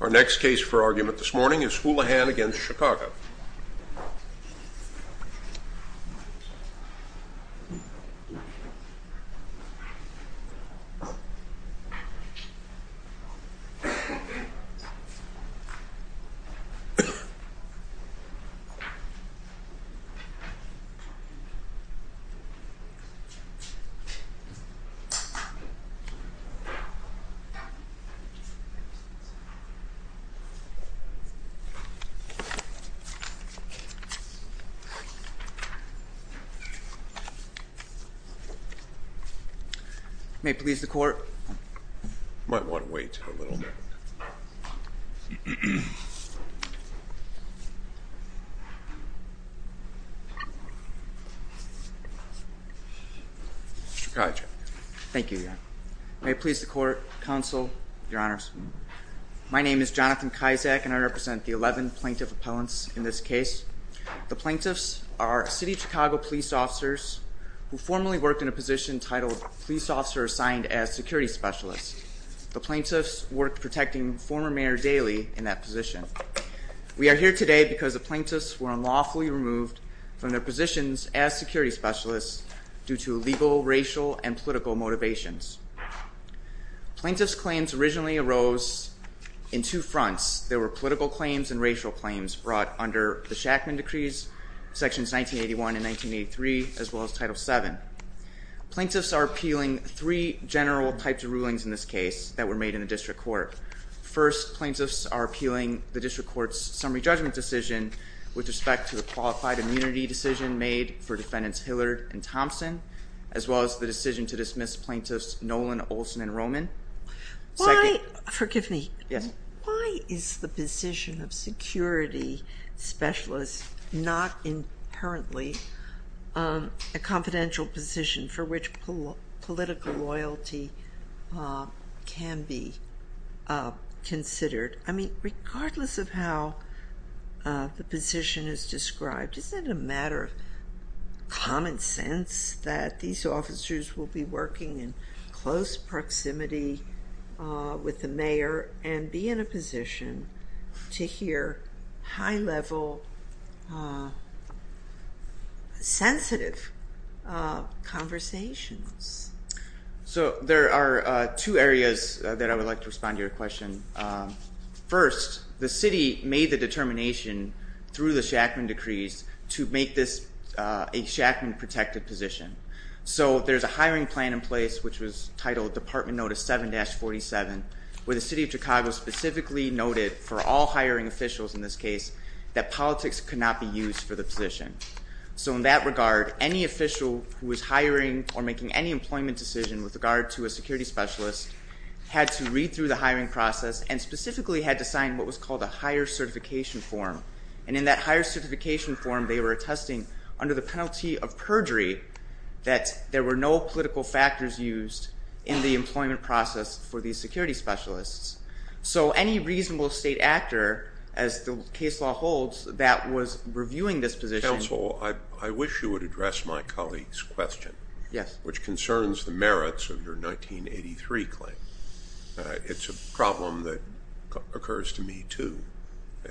Our next case for argument this morning is Houlihan v. Chicago May it please the Court You might want to wait a little Mr. Kajic Thank you, Your Honor May it please the Court, Counsel, Your Honors My name is Jonathan Kajic and I represent the 11 plaintiff appellants in this case The plaintiffs are City of Chicago police officers who formerly worked in a position titled Police Officer Assigned as Security Specialist The plaintiffs worked protecting former Mayor Daley in that position We are here today because the plaintiffs were unlawfully removed from their positions as security specialists due to legal, racial, and political motivations Plaintiffs' claims originally arose in two fronts There were political claims and racial claims brought under the Shackman decrees Sections 1981 and 1983, as well as Title VII Plaintiffs are appealing three general types of rulings in this case that were made in the district court First, plaintiffs are appealing the district court's summary judgment decision with respect to the qualified immunity decision made for defendants Hillard and Thompson as well as the decision to dismiss plaintiffs Nolan, Olson, and Roman Why is the position of security specialist not inherently a confidential position for which political loyalty can be considered? I mean, regardless of how the position is described isn't it a matter of common sense that these officers will be working in close proximity with the mayor and be in a position to hear high-level, sensitive conversations? So there are two areas that I would like to respond to your question First, the city made the determination through the Shackman decrees to make this a Shackman-protected position So there's a hiring plan in place which was titled Department Notice 7-47 where the city of Chicago specifically noted for all hiring officials in this case that politics could not be used for the position So in that regard, any official who was hiring or making any employment decision with regard to a security specialist had to read through the hiring process and specifically had to sign what was called a hire certification form and in that hire certification form they were attesting under the penalty of perjury that there were no political factors used in the employment process for these security specialists So any reasonable state actor, as the case law holds, that was reviewing this position Mr. Counsel, I wish you would address my colleague's question which concerns the merits of your 1983 claim It's a problem that occurs to me too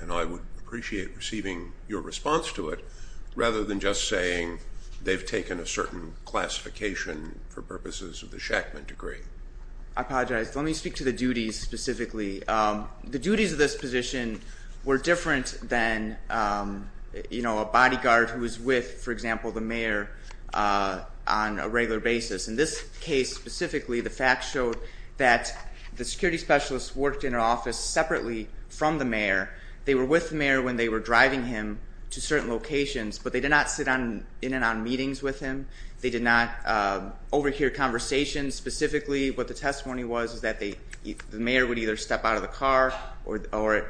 and I would appreciate receiving your response to it rather than just saying they've taken a certain classification for purposes of the Shackman decree I apologize. Let me speak to the duties specifically The duties of this position were different than a bodyguard who was with, for example, the mayor on a regular basis In this case specifically, the facts showed that the security specialist worked in an office separately from the mayor They were with the mayor when they were driving him to certain locations but they did not sit in and out of meetings with him They did not overhear conversations Specifically, what the testimony was that the mayor would either step out of the car or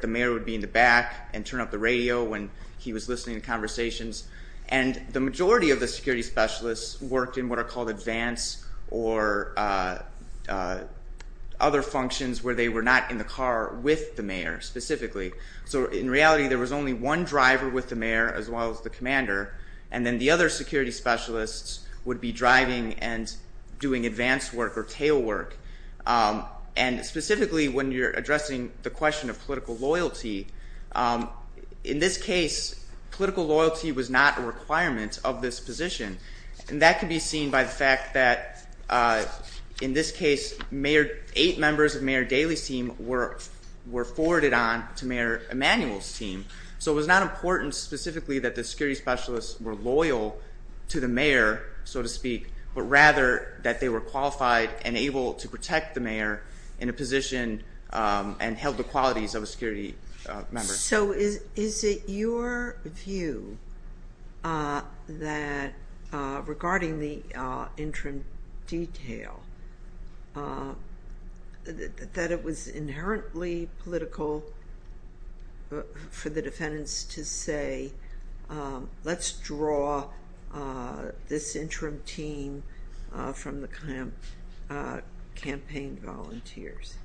the mayor would be in the back and turn up the radio when he was listening to conversations and the majority of the security specialists worked in what are called advance or other functions where they were not in the car with the mayor specifically So in reality there was only one driver with the mayor as well as the commander and then the other security specialists would be driving and doing advance work or tail work and specifically when you're addressing the question of political loyalty In this case, political loyalty was not a requirement of this position and that can be seen by the fact that in this case eight members of Mayor Daley's team were forwarded on to Mayor Emanuel's team So it was not important specifically that the security specialists were loyal to the mayor so to speak but rather that they were qualified and able to protect the mayor in a position and held the qualities of a security member So is it your view that regarding the interim detail that it was inherently political for the defendants to say let's draw this interim team from the campaign volunteers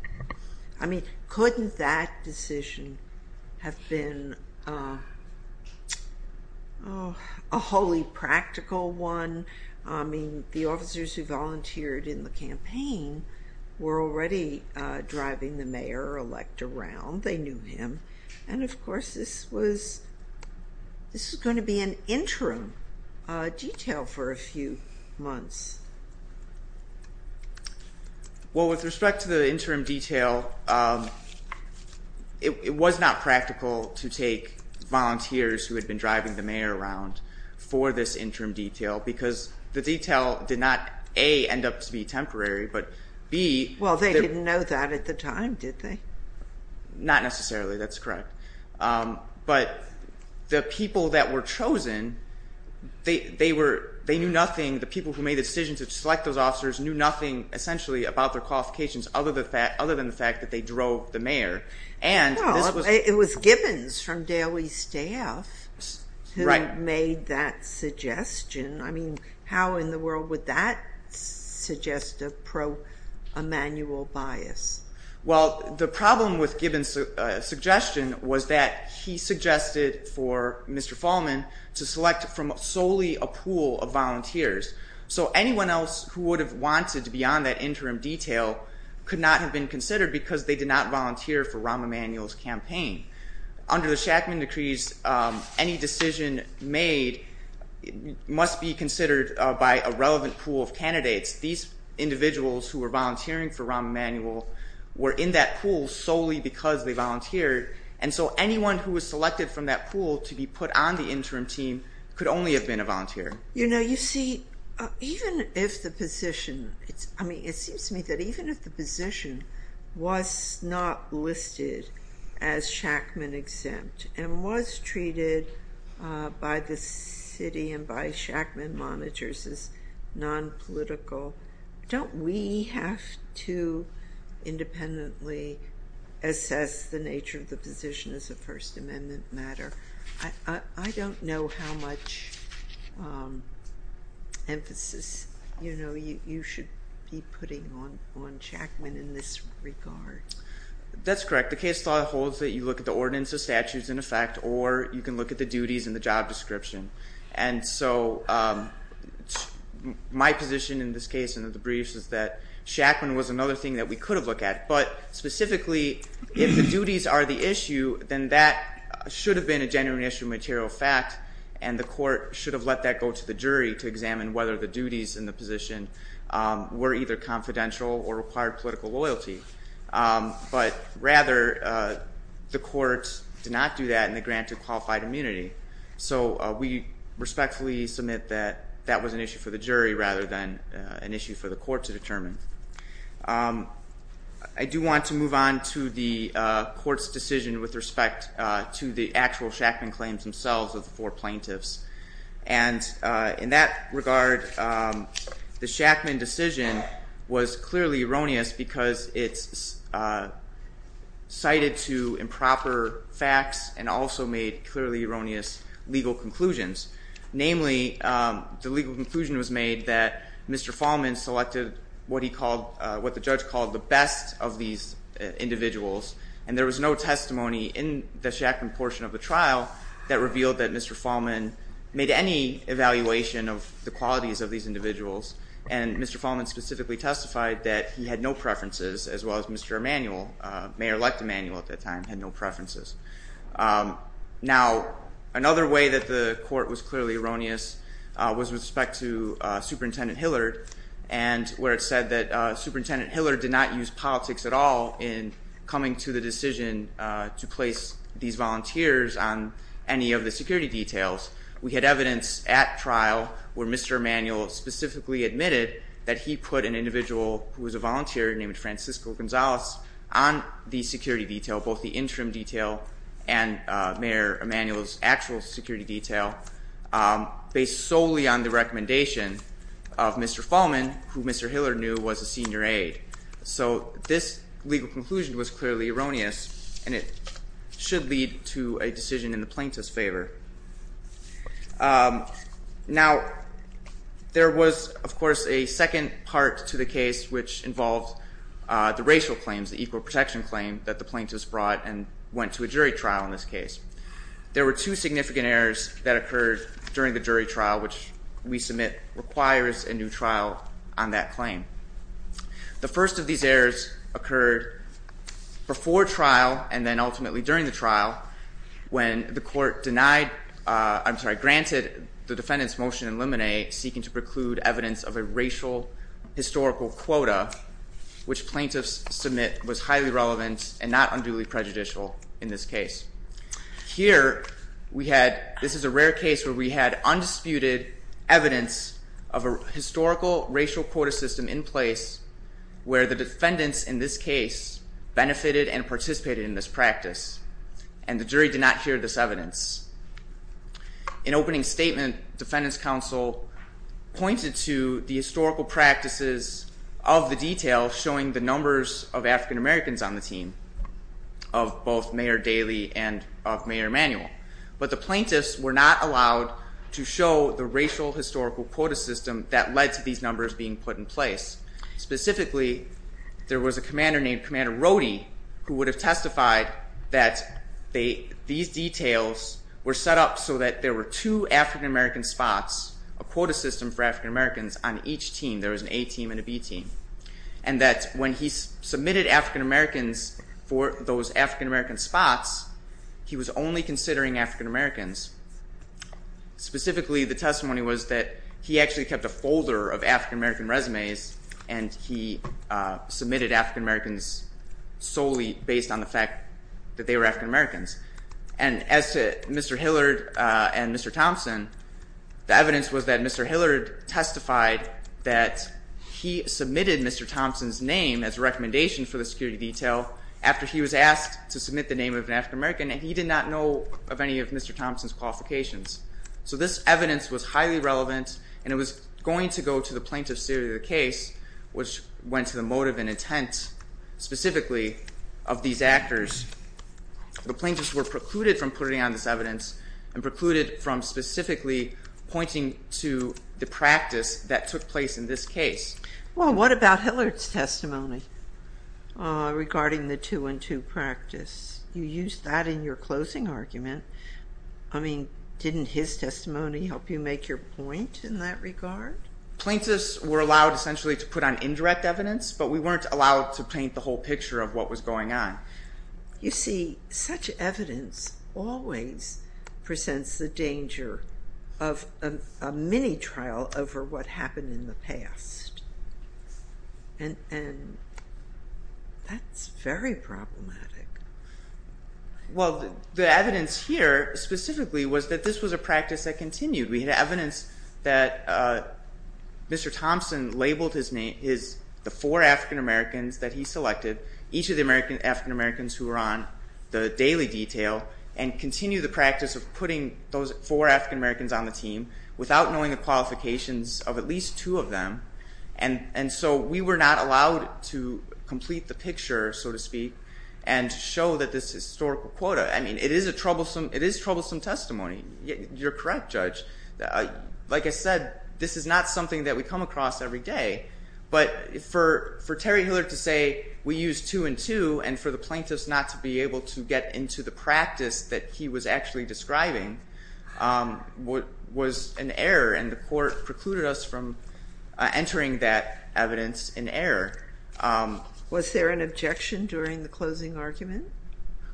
I mean couldn't that decision have been a wholly practical one I mean the officers who volunteered in the campaign were already driving the mayor or elect around They knew him and of course this was going to be an interim detail for a few months Well with respect to the interim detail it was not practical to take volunteers who had been driving the mayor around for this interim detail because the detail did not A end up to be temporary but B Well they didn't know that at the time did they Not necessarily that's correct But the people that were chosen they knew nothing, the people who made the decision to select those officers knew nothing essentially about their qualifications other than the fact that they drove the mayor Well it was Gibbons from Daley's staff who made that suggestion I mean how in the world would that suggest a pro-Emanuel bias Well the problem with Gibbons' suggestion was that he suggested for Mr. Fahlman to select from solely a pool of volunteers So anyone else who would have wanted to be on that interim detail could not have been considered because they did not volunteer for Rahm Emanuel's campaign Under the Shackman Decrees any decision made must be considered by a relevant pool of candidates These individuals who were volunteering for Rahm Emanuel were in that pool solely because they volunteered and so anyone who was selected from that pool to be put on the interim team could only have been a volunteer You know you see even if the position I mean it seems to me that even if the position was not listed as Shackman exempt and was treated by the city and by Shackman monitors as non-political don't we have to independently assess the nature of the position as a First Amendment matter I don't know how much emphasis you know you should be putting on Shackman in this regard That's correct. The case law holds that you look at the ordinance of statutes in effect or you can look at the duties and the job description and so my position in this case and the briefs is that Shackman was another thing that we could have looked at but specifically if the duties are the issue then that should have been a genuine issue of material fact and the court should have let that go to the jury to examine whether the duties in the position were either confidential or required political loyalty but rather the court did not do that and they granted qualified immunity so we respectfully submit that that was an issue for the jury rather than an issue for the court to determine I do want to move on to the court's decision with respect to the actual Shackman claims themselves of the four plaintiffs and in that regard the Shackman decision was clearly erroneous because it's cited to improper facts and also made clearly erroneous legal conclusions namely the legal conclusion was made that Mr. Fallman selected what he called what the judge called the best of these individuals and there was no testimony in the Shackman portion of the trial that revealed that Mr. Fallman made any evaluation of the qualities of these individuals and Mr. Fallman specifically testified that he had no preferences as well as Mr. Emanuel, Mayor-elect Emanuel at that time, had no preferences now another way that the court was clearly erroneous was with respect to Superintendent Hillard and where it said that Superintendent Hillard did not use politics at all in coming to the decision to place these volunteers on any of the security details we had evidence at trial where Mr. Emanuel specifically admitted that he put an individual who was a volunteer named Francisco Gonzalez on the security detail both the interim detail and Mayor Emanuel's actual security detail based solely on the recommendation of Mr. Fallman who Mr. Hillard knew was a senior aide so this legal conclusion was clearly erroneous and it should lead to a decision in the plaintiff's favor now there was of course a second part to the case which involved the racial claims the equal protection claim that the plaintiffs brought and went to a jury trial in this case there were two significant errors that occurred during the jury trial which we submit requires a new trial on that claim the first of these errors occurred before trial and then ultimately during the trial when the court granted the defendant's motion in limine seeking to preclude evidence of a racial historical quota which plaintiffs submit was highly relevant and not unduly prejudicial in this case here we had, this is a rare case where we had undisputed evidence of a historical racial quota system in place where the defendants in this case benefited and participated in this practice and the jury did not hear this evidence in opening statement defendants counsel pointed to the historical practices of the detail showing the numbers of African Americans on the team of both Mayor Daley and of Mayor Emanuel but the plaintiffs were not allowed to show the racial historical quota system that led to these numbers being put in place specifically there was a commander named Commander Rody who would have testified that these details were set up so that there were two African American spots a quota system for African Americans on each team there was an A team and a B team and that when he submitted African Americans for those African American spots he was only considering African Americans specifically the testimony was that he actually kept a folder of African American resumes and he submitted African Americans solely based on the fact that they were African Americans and as to Mr. Hillard and Mr. Thompson the evidence was that Mr. Hillard testified that he submitted Mr. Thompson's name as a recommendation for the security detail after he was asked to submit the name of an African American and he did not know of any of Mr. Thompson's qualifications so this evidence was highly relevant and it was going to go to the plaintiff's theory of the case which went to the motive and intent specifically of these actors the plaintiffs were precluded from putting on this evidence and precluded from specifically pointing to the practice that took place in this case Well what about Hillard's testimony regarding the two and two practice? You used that in your closing argument I mean didn't his testimony help you make your point in that regard? Plaintiffs were allowed essentially to put on indirect evidence but we weren't allowed to paint the whole picture of what was going on You see such evidence always presents the danger of a mini trial over what happened in the past and that's very problematic Well the evidence here specifically was that this was a practice that continued we had evidence that Mr. Thompson labeled the four African Americans that he selected each of the African Americans who were on the daily detail and continued the practice of putting those four African Americans on the team without knowing the qualifications of at least two of them and so we were not allowed to complete the picture so to speak and show that this historical quota I mean it is a troublesome testimony You're correct Judge Like I said this is not something that we come across every day but for Terry Hillard to say we used two and two and for the plaintiffs not to be able to get into the practice that he was actually describing was an error and the court precluded us from entering that evidence in error Was there an objection during the closing argument?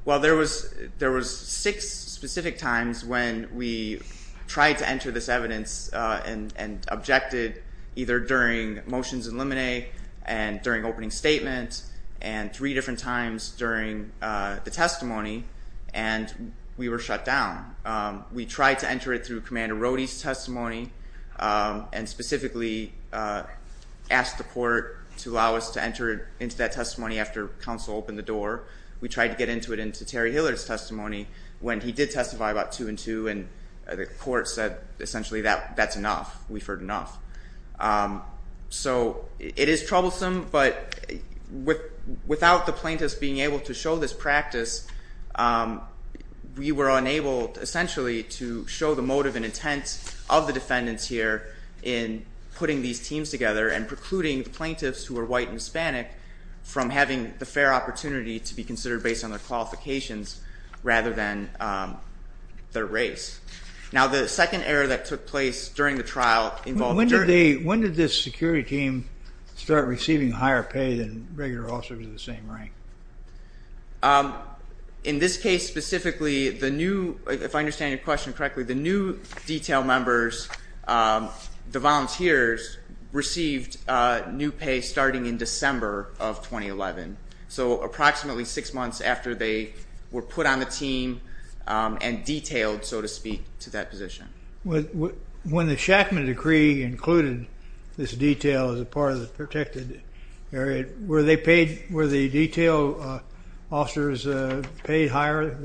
Well there was six specific times when we tried to enter this evidence and objected either during motions in limine and during opening statements and three different times during the testimony and we were shut down We tried to enter it through Commander Rohde's testimony and specifically asked the court to allow us to enter into that testimony after counsel opened the door We tried to get into it into Terry Hillard's testimony when he did testify about two and two and the court said essentially that's enough We've heard enough So it is troublesome but without the plaintiffs being able to show this practice we were unable essentially to show the motive and intent of the defendants here in putting these teams together and precluding the plaintiffs who are white and Hispanic from having the fair opportunity to be considered based on their qualifications rather than their race Now the second error that took place during the trial When did this security team start receiving higher pay than regular officers of the same rank? In this case specifically, if I understand your question correctly the new detail members, the volunteers received new pay starting in December of 2011 So approximately six months after they were put on the team and detailed, so to speak, to that position When the Shackman Decree included this detail as part of the protected area were the detail officers paid higher?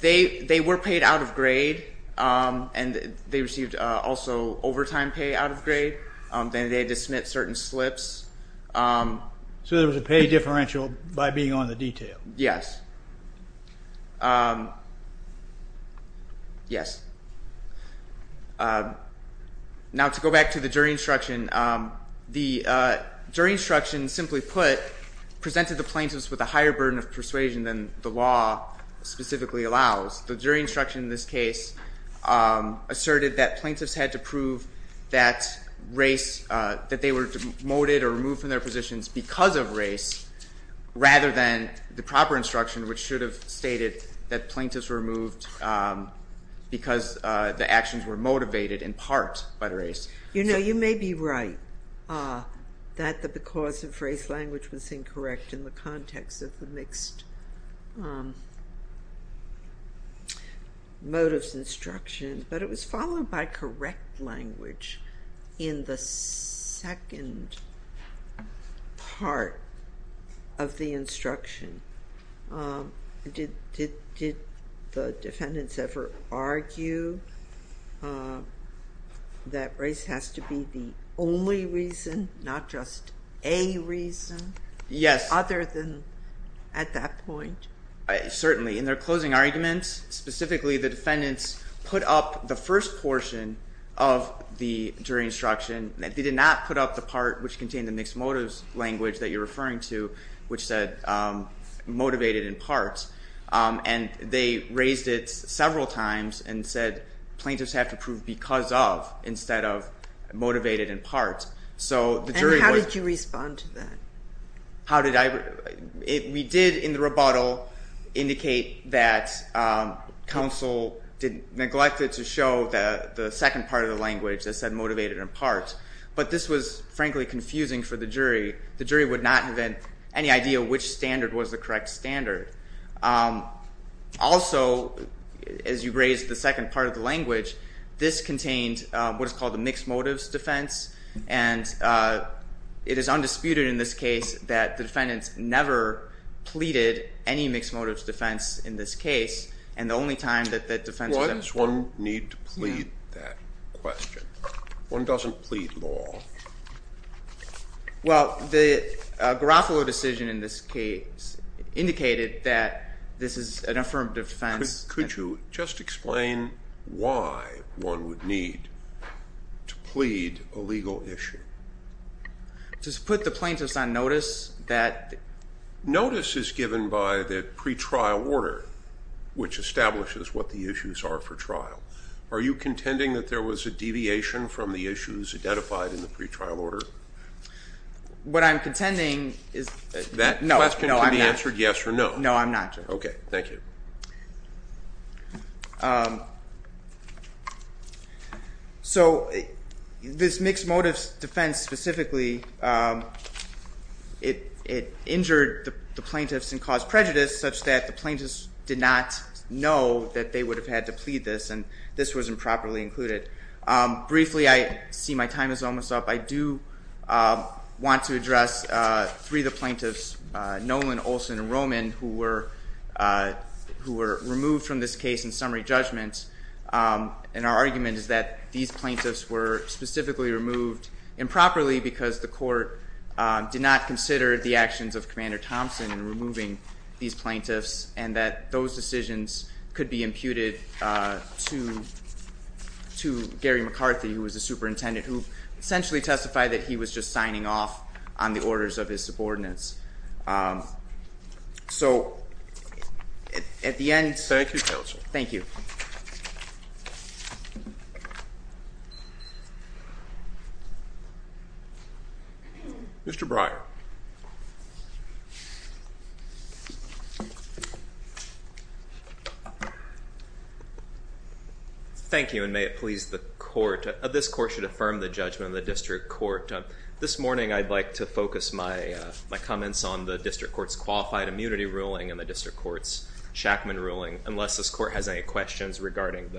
They were paid out of grade and they received also overtime pay out of grade Then they had to submit certain slips So there was a pay differential by being on the detail? Yes Now to go back to the jury instruction The jury instruction, simply put presented the plaintiffs with a higher burden of persuasion than the law specifically allows The jury instruction in this case asserted that plaintiffs had to prove that they were demoted or removed from their positions because of race rather than the proper instruction which should have stated that plaintiffs were removed because the actions were motivated in part by the race You know, you may be right that the because of race language was incorrect in the context of the mixed motives instruction but it was followed by correct language in the second part of the instruction Did the defendants ever argue that race has to be the only reason not just a reason other than at that point? Certainly, in their closing argument specifically the defendants put up the first portion of the jury instruction They did not put up the part which contained the mixed motives language that you're referring to which said motivated in part and they raised it several times and said plaintiffs have to prove because of instead of motivated in part And how did you respond to that? We did in the rebuttal indicate that counsel neglected to show the second part of the language that said motivated in part but this was frankly confusing for the jury The jury would not have had any idea which standard was the correct standard Also, as you raised the second part of the language this contained what is called the mixed motives defense and it is undisputed in this case that the defendants never pleaded any mixed motives defense in this case Why does one need to plead that question? One doesn't plead law Well, the Garofalo decision in this case indicated that this is an affirmative defense Could you just explain why one would need to plead a legal issue? Just put the plaintiffs on notice that Notice is given by the pretrial order which establishes what the issues are for trial Are you contending that there was a deviation from the issues identified in the pretrial order? What I'm contending is That question can be answered yes or no No, I'm not Okay, thank you So, this mixed motives defense specifically It injured the plaintiffs and caused prejudice such that the plaintiffs did not know that they would have had to plead this and this was improperly included Briefly, I see my time is almost up I do want to address three of the plaintiffs Nolan, Olson, and Roman who were removed from this case in summary judgment and our argument is that these plaintiffs were specifically removed improperly because the court did not consider the actions of Commander Thompson in removing these plaintiffs and that those decisions could be imputed to Gary McCarthy who was the superintendent who essentially testified that he was just signing off on the orders of his subordinates So, at the end Thank you, Counselor Thank you Mr. Bryant Thank you and may it please the court This court should affirm the judgment of the district court This morning, I'd like to focus my comments on the district court's qualified immunity ruling and the district court's Shackman ruling unless this court has any questions regarding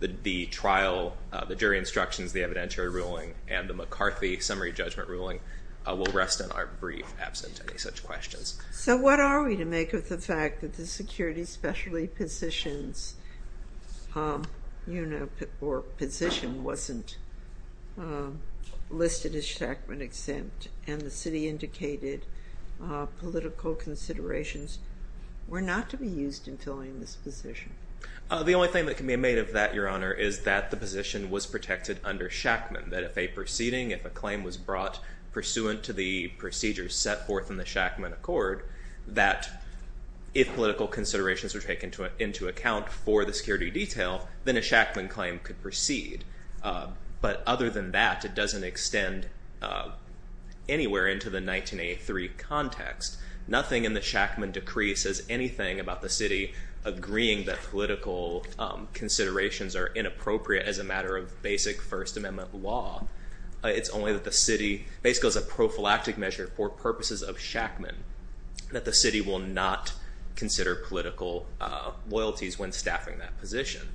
the trial the jury instructions, the evidentiary ruling and the McCarthy summary judgment ruling will rest in our brief absent any such questions So, what are we to make of the fact that the security specialty positions or position wasn't listed as Shackman exempt and the city indicated political considerations were not to be used in filling this position The only thing that can be made of that, Your Honor is that the position was protected under Shackman that if a proceeding, if a claim was brought pursuant to the procedures set forth in the Shackman Accord that if political considerations were taken into account for the security detail, then a Shackman claim could proceed But other than that, it doesn't extend anywhere into the 1983 context Nothing in the Shackman Decree says anything about the city agreeing that political considerations are inappropriate as a matter of basic First Amendment law It's only that the city, basically as a prophylactic measure for purposes of Shackman that the city will not consider political loyalties when staffing that position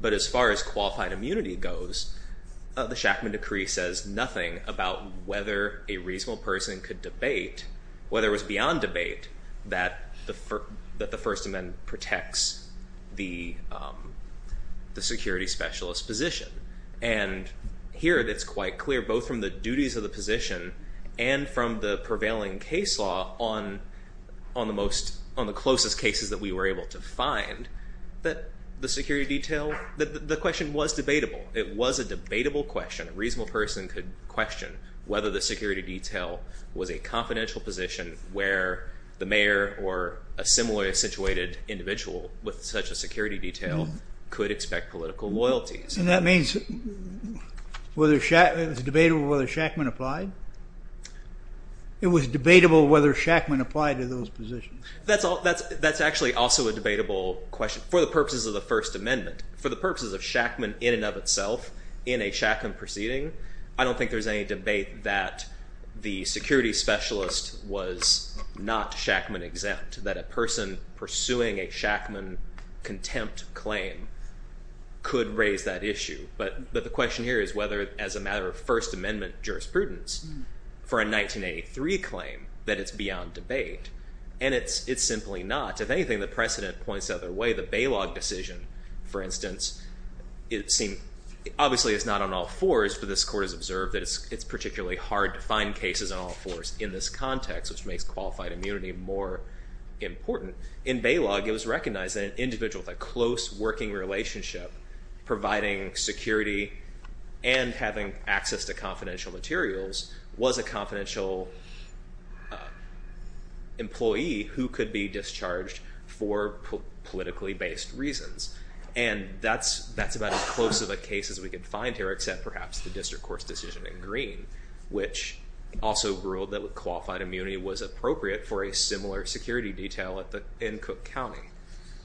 But as far as qualified immunity goes the Shackman Decree says nothing about whether a reasonable person could debate, whether it was beyond debate that the First Amendment protects the security specialist position And here it's quite clear both from the duties of the position and from the prevailing case law on the closest cases that we were able to find that the security detail, the question was debatable It was a debatable question, a reasonable person could question whether the security detail was a confidential position where the mayor or a similarly situated individual with such a security detail could expect political loyalties And that means it was debatable whether Shackman applied? It was debatable whether Shackman applied to those positions? That's actually also a debatable question for the purposes of the First Amendment for the purposes of Shackman in and of itself in a Shackman proceeding I don't think there's any debate that the security specialist was not Shackman exempt that a person pursuing a Shackman contempt claim could raise that issue But the question here is whether as a matter of First Amendment jurisprudence for a 1983 claim that it's beyond debate And it's simply not If anything, the precedent points the other way The Bailog decision, for instance Obviously it's not on all fours but this court has observed that it's particularly hard to find cases on all fours in this context which makes qualified immunity more important In Bailog, it was recognized that an individual with a close working relationship providing security and having access to confidential materials was a confidential employee who could be discharged for politically based reasons And that's about as close of a case as we could find here except perhaps the district court's decision in Green which also ruled that qualified immunity was appropriate for a similar security detail in Cook County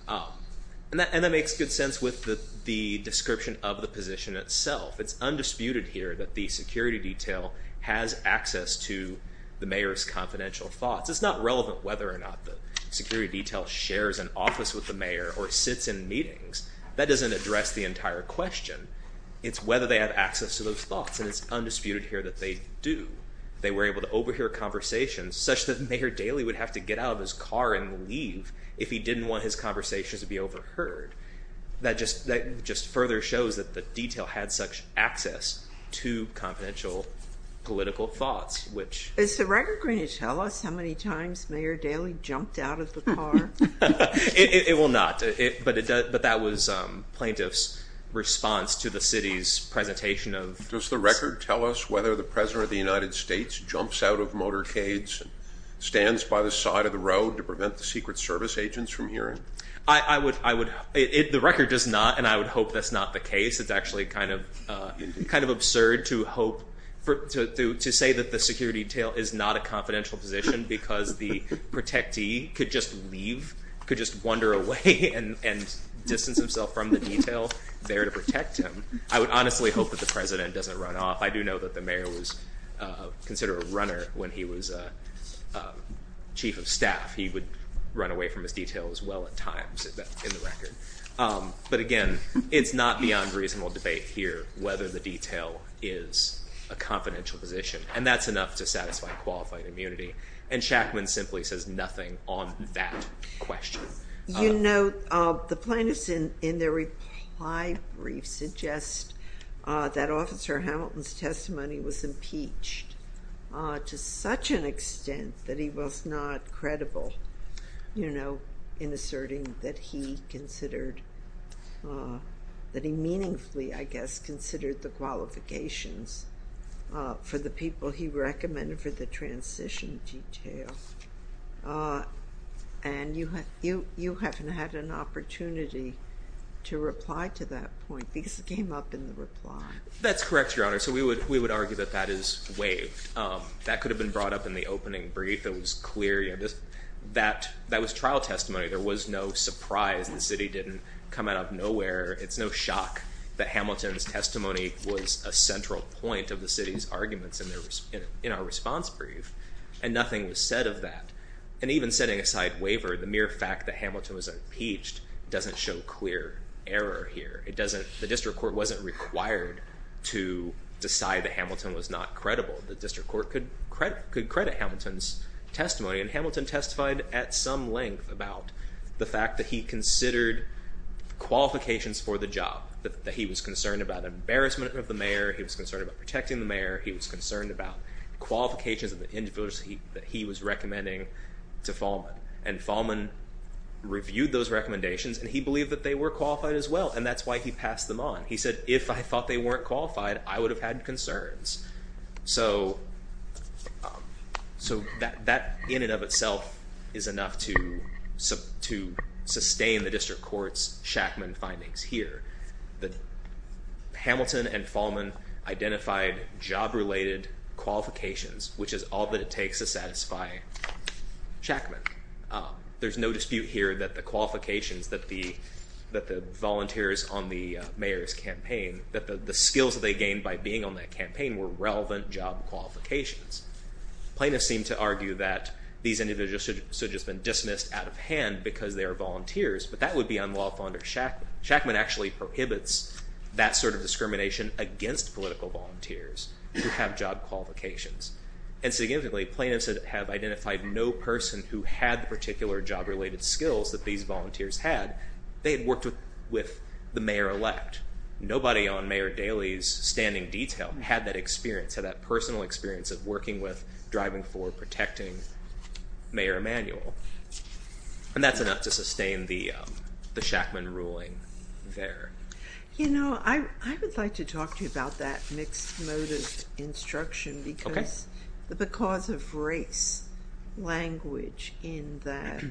And that makes good sense with the description of the position itself It's undisputed here that the security detail has access to the mayor's confidential thoughts It's not relevant whether or not the security detail shares an office with the mayor or sits in meetings That doesn't address the entire question It's whether they have access to those thoughts And it's undisputed here that they do They were able to overhear conversations such that Mayor Daley would have to get out of his car and leave if he didn't want his conversations to be overheard That just further shows that the detail had such access to confidential political thoughts Is the record going to tell us how many times Mayor Daley jumped out of the car? It will not But that was plaintiff's response to the city's presentation Does the record tell us whether the President of the United States jumps out of motorcades and stands by the side of the road to prevent the Secret Service agents from hearing? The record does not And I would hope that's not the case It's actually kind of absurd to hope to say that the security detail is not a confidential position because the protectee could just leave could just wander away and distance himself from the detail there to protect him I would honestly hope that the President doesn't run off I do know that the mayor was considered a runner when he was Chief of Staff He would run away from his detail as well at times in the record But again, it's not beyond reasonable debate here whether the detail is a confidential position And that's enough to satisfy qualified immunity And Shackman simply says nothing on that question You know, the plaintiffs in their reply brief suggest that Officer Hamilton's testimony was impeached to such an extent that he was not credible in asserting that he considered that he meaningfully, I guess, considered the qualifications for the people he recommended for the transition detail And you haven't had an opportunity to reply to that point because it came up in the reply That's correct, Your Honor So we would argue that that is waived That could have been brought up in the opening brief That was trial testimony There was no surprise The city didn't come out of nowhere It's no shock that Hamilton's testimony was a central point of the city's arguments in our response brief And nothing was said of that And even setting aside waiver the mere fact that Hamilton was impeached doesn't show clear error here The district court wasn't required to decide that Hamilton was not credible The district court could credit Hamilton's testimony And Hamilton testified at some length about the fact that he considered qualifications for the job That he was concerned about embarrassment of the mayor He was concerned about protecting the mayor He was concerned about qualifications of the individuals that he was recommending to Fahlman And Fahlman reviewed those recommendations And he believed that they were qualified as well And that's why he passed them on He said, if I thought they weren't qualified I would have had concerns So that in and of itself is enough to sustain the district court's Shackman findings here Hamilton and Fahlman identified job-related qualifications which is all that it takes to satisfy Shackman There's no dispute here that the qualifications that the volunteers on the mayor's campaign that the skills that they gained by being on that campaign were relevant job qualifications Plaintiffs seem to argue that these individuals should have just been dismissed out of hand because they are volunteers But that would be unlawful under Shackman Shackman actually prohibits that sort of discrimination against political volunteers who have job qualifications And significantly, plaintiffs have identified no person who had the particular job-related skills that these volunteers had They had worked with the mayor-elect Nobody on Mayor Daley's standing detail had that experience had that personal experience of working with, driving for, protecting Mayor Emanuel And that's enough to sustain the Shackman ruling there You know, I would like to talk to you about that mixed motive instruction because of race language in that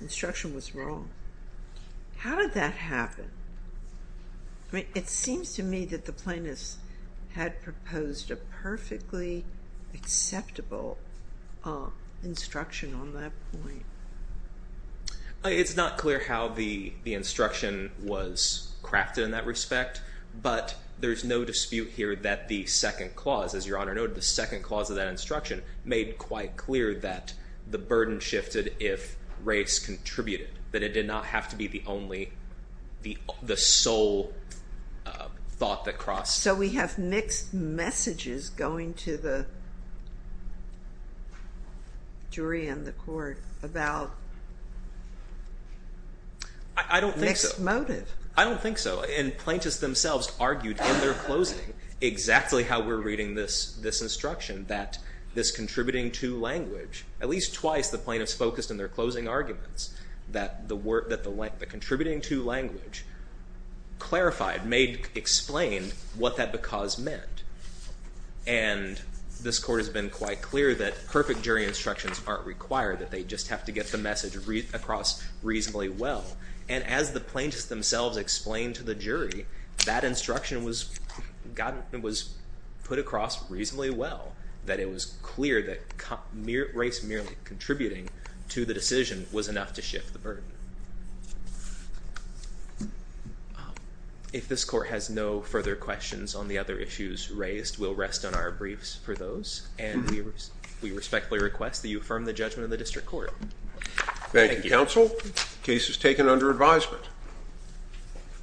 instruction was wrong How did that happen? It seems to me that the plaintiffs had proposed a perfectly acceptable instruction on that point It's not clear how the instruction was crafted in that respect But there's no dispute here that the second clause as your honor noted the second clause of that instruction made quite clear that the burden shifted if race contributed that it did not have to be the only the sole thought that crossed So we have mixed messages going to the jury and the court about mixed motive I don't think so And plaintiffs themselves argued in their closing exactly how we're reading this instruction that this contributing to language at least twice the plaintiffs focused in their closing arguments that the contributing to language clarified, explained what that because meant And this court has been quite clear that perfect jury instructions aren't required that they just have to get the message across reasonably well And as the plaintiffs themselves explained to the jury that instruction was put across reasonably well that it was clear that race merely contributing to the decision was enough to shift the burden If this court has no further questions on the other issues raised we'll rest on our briefs for those And we respectfully request that you affirm the judgment of the district court Thank you, counsel Case is taken under advisement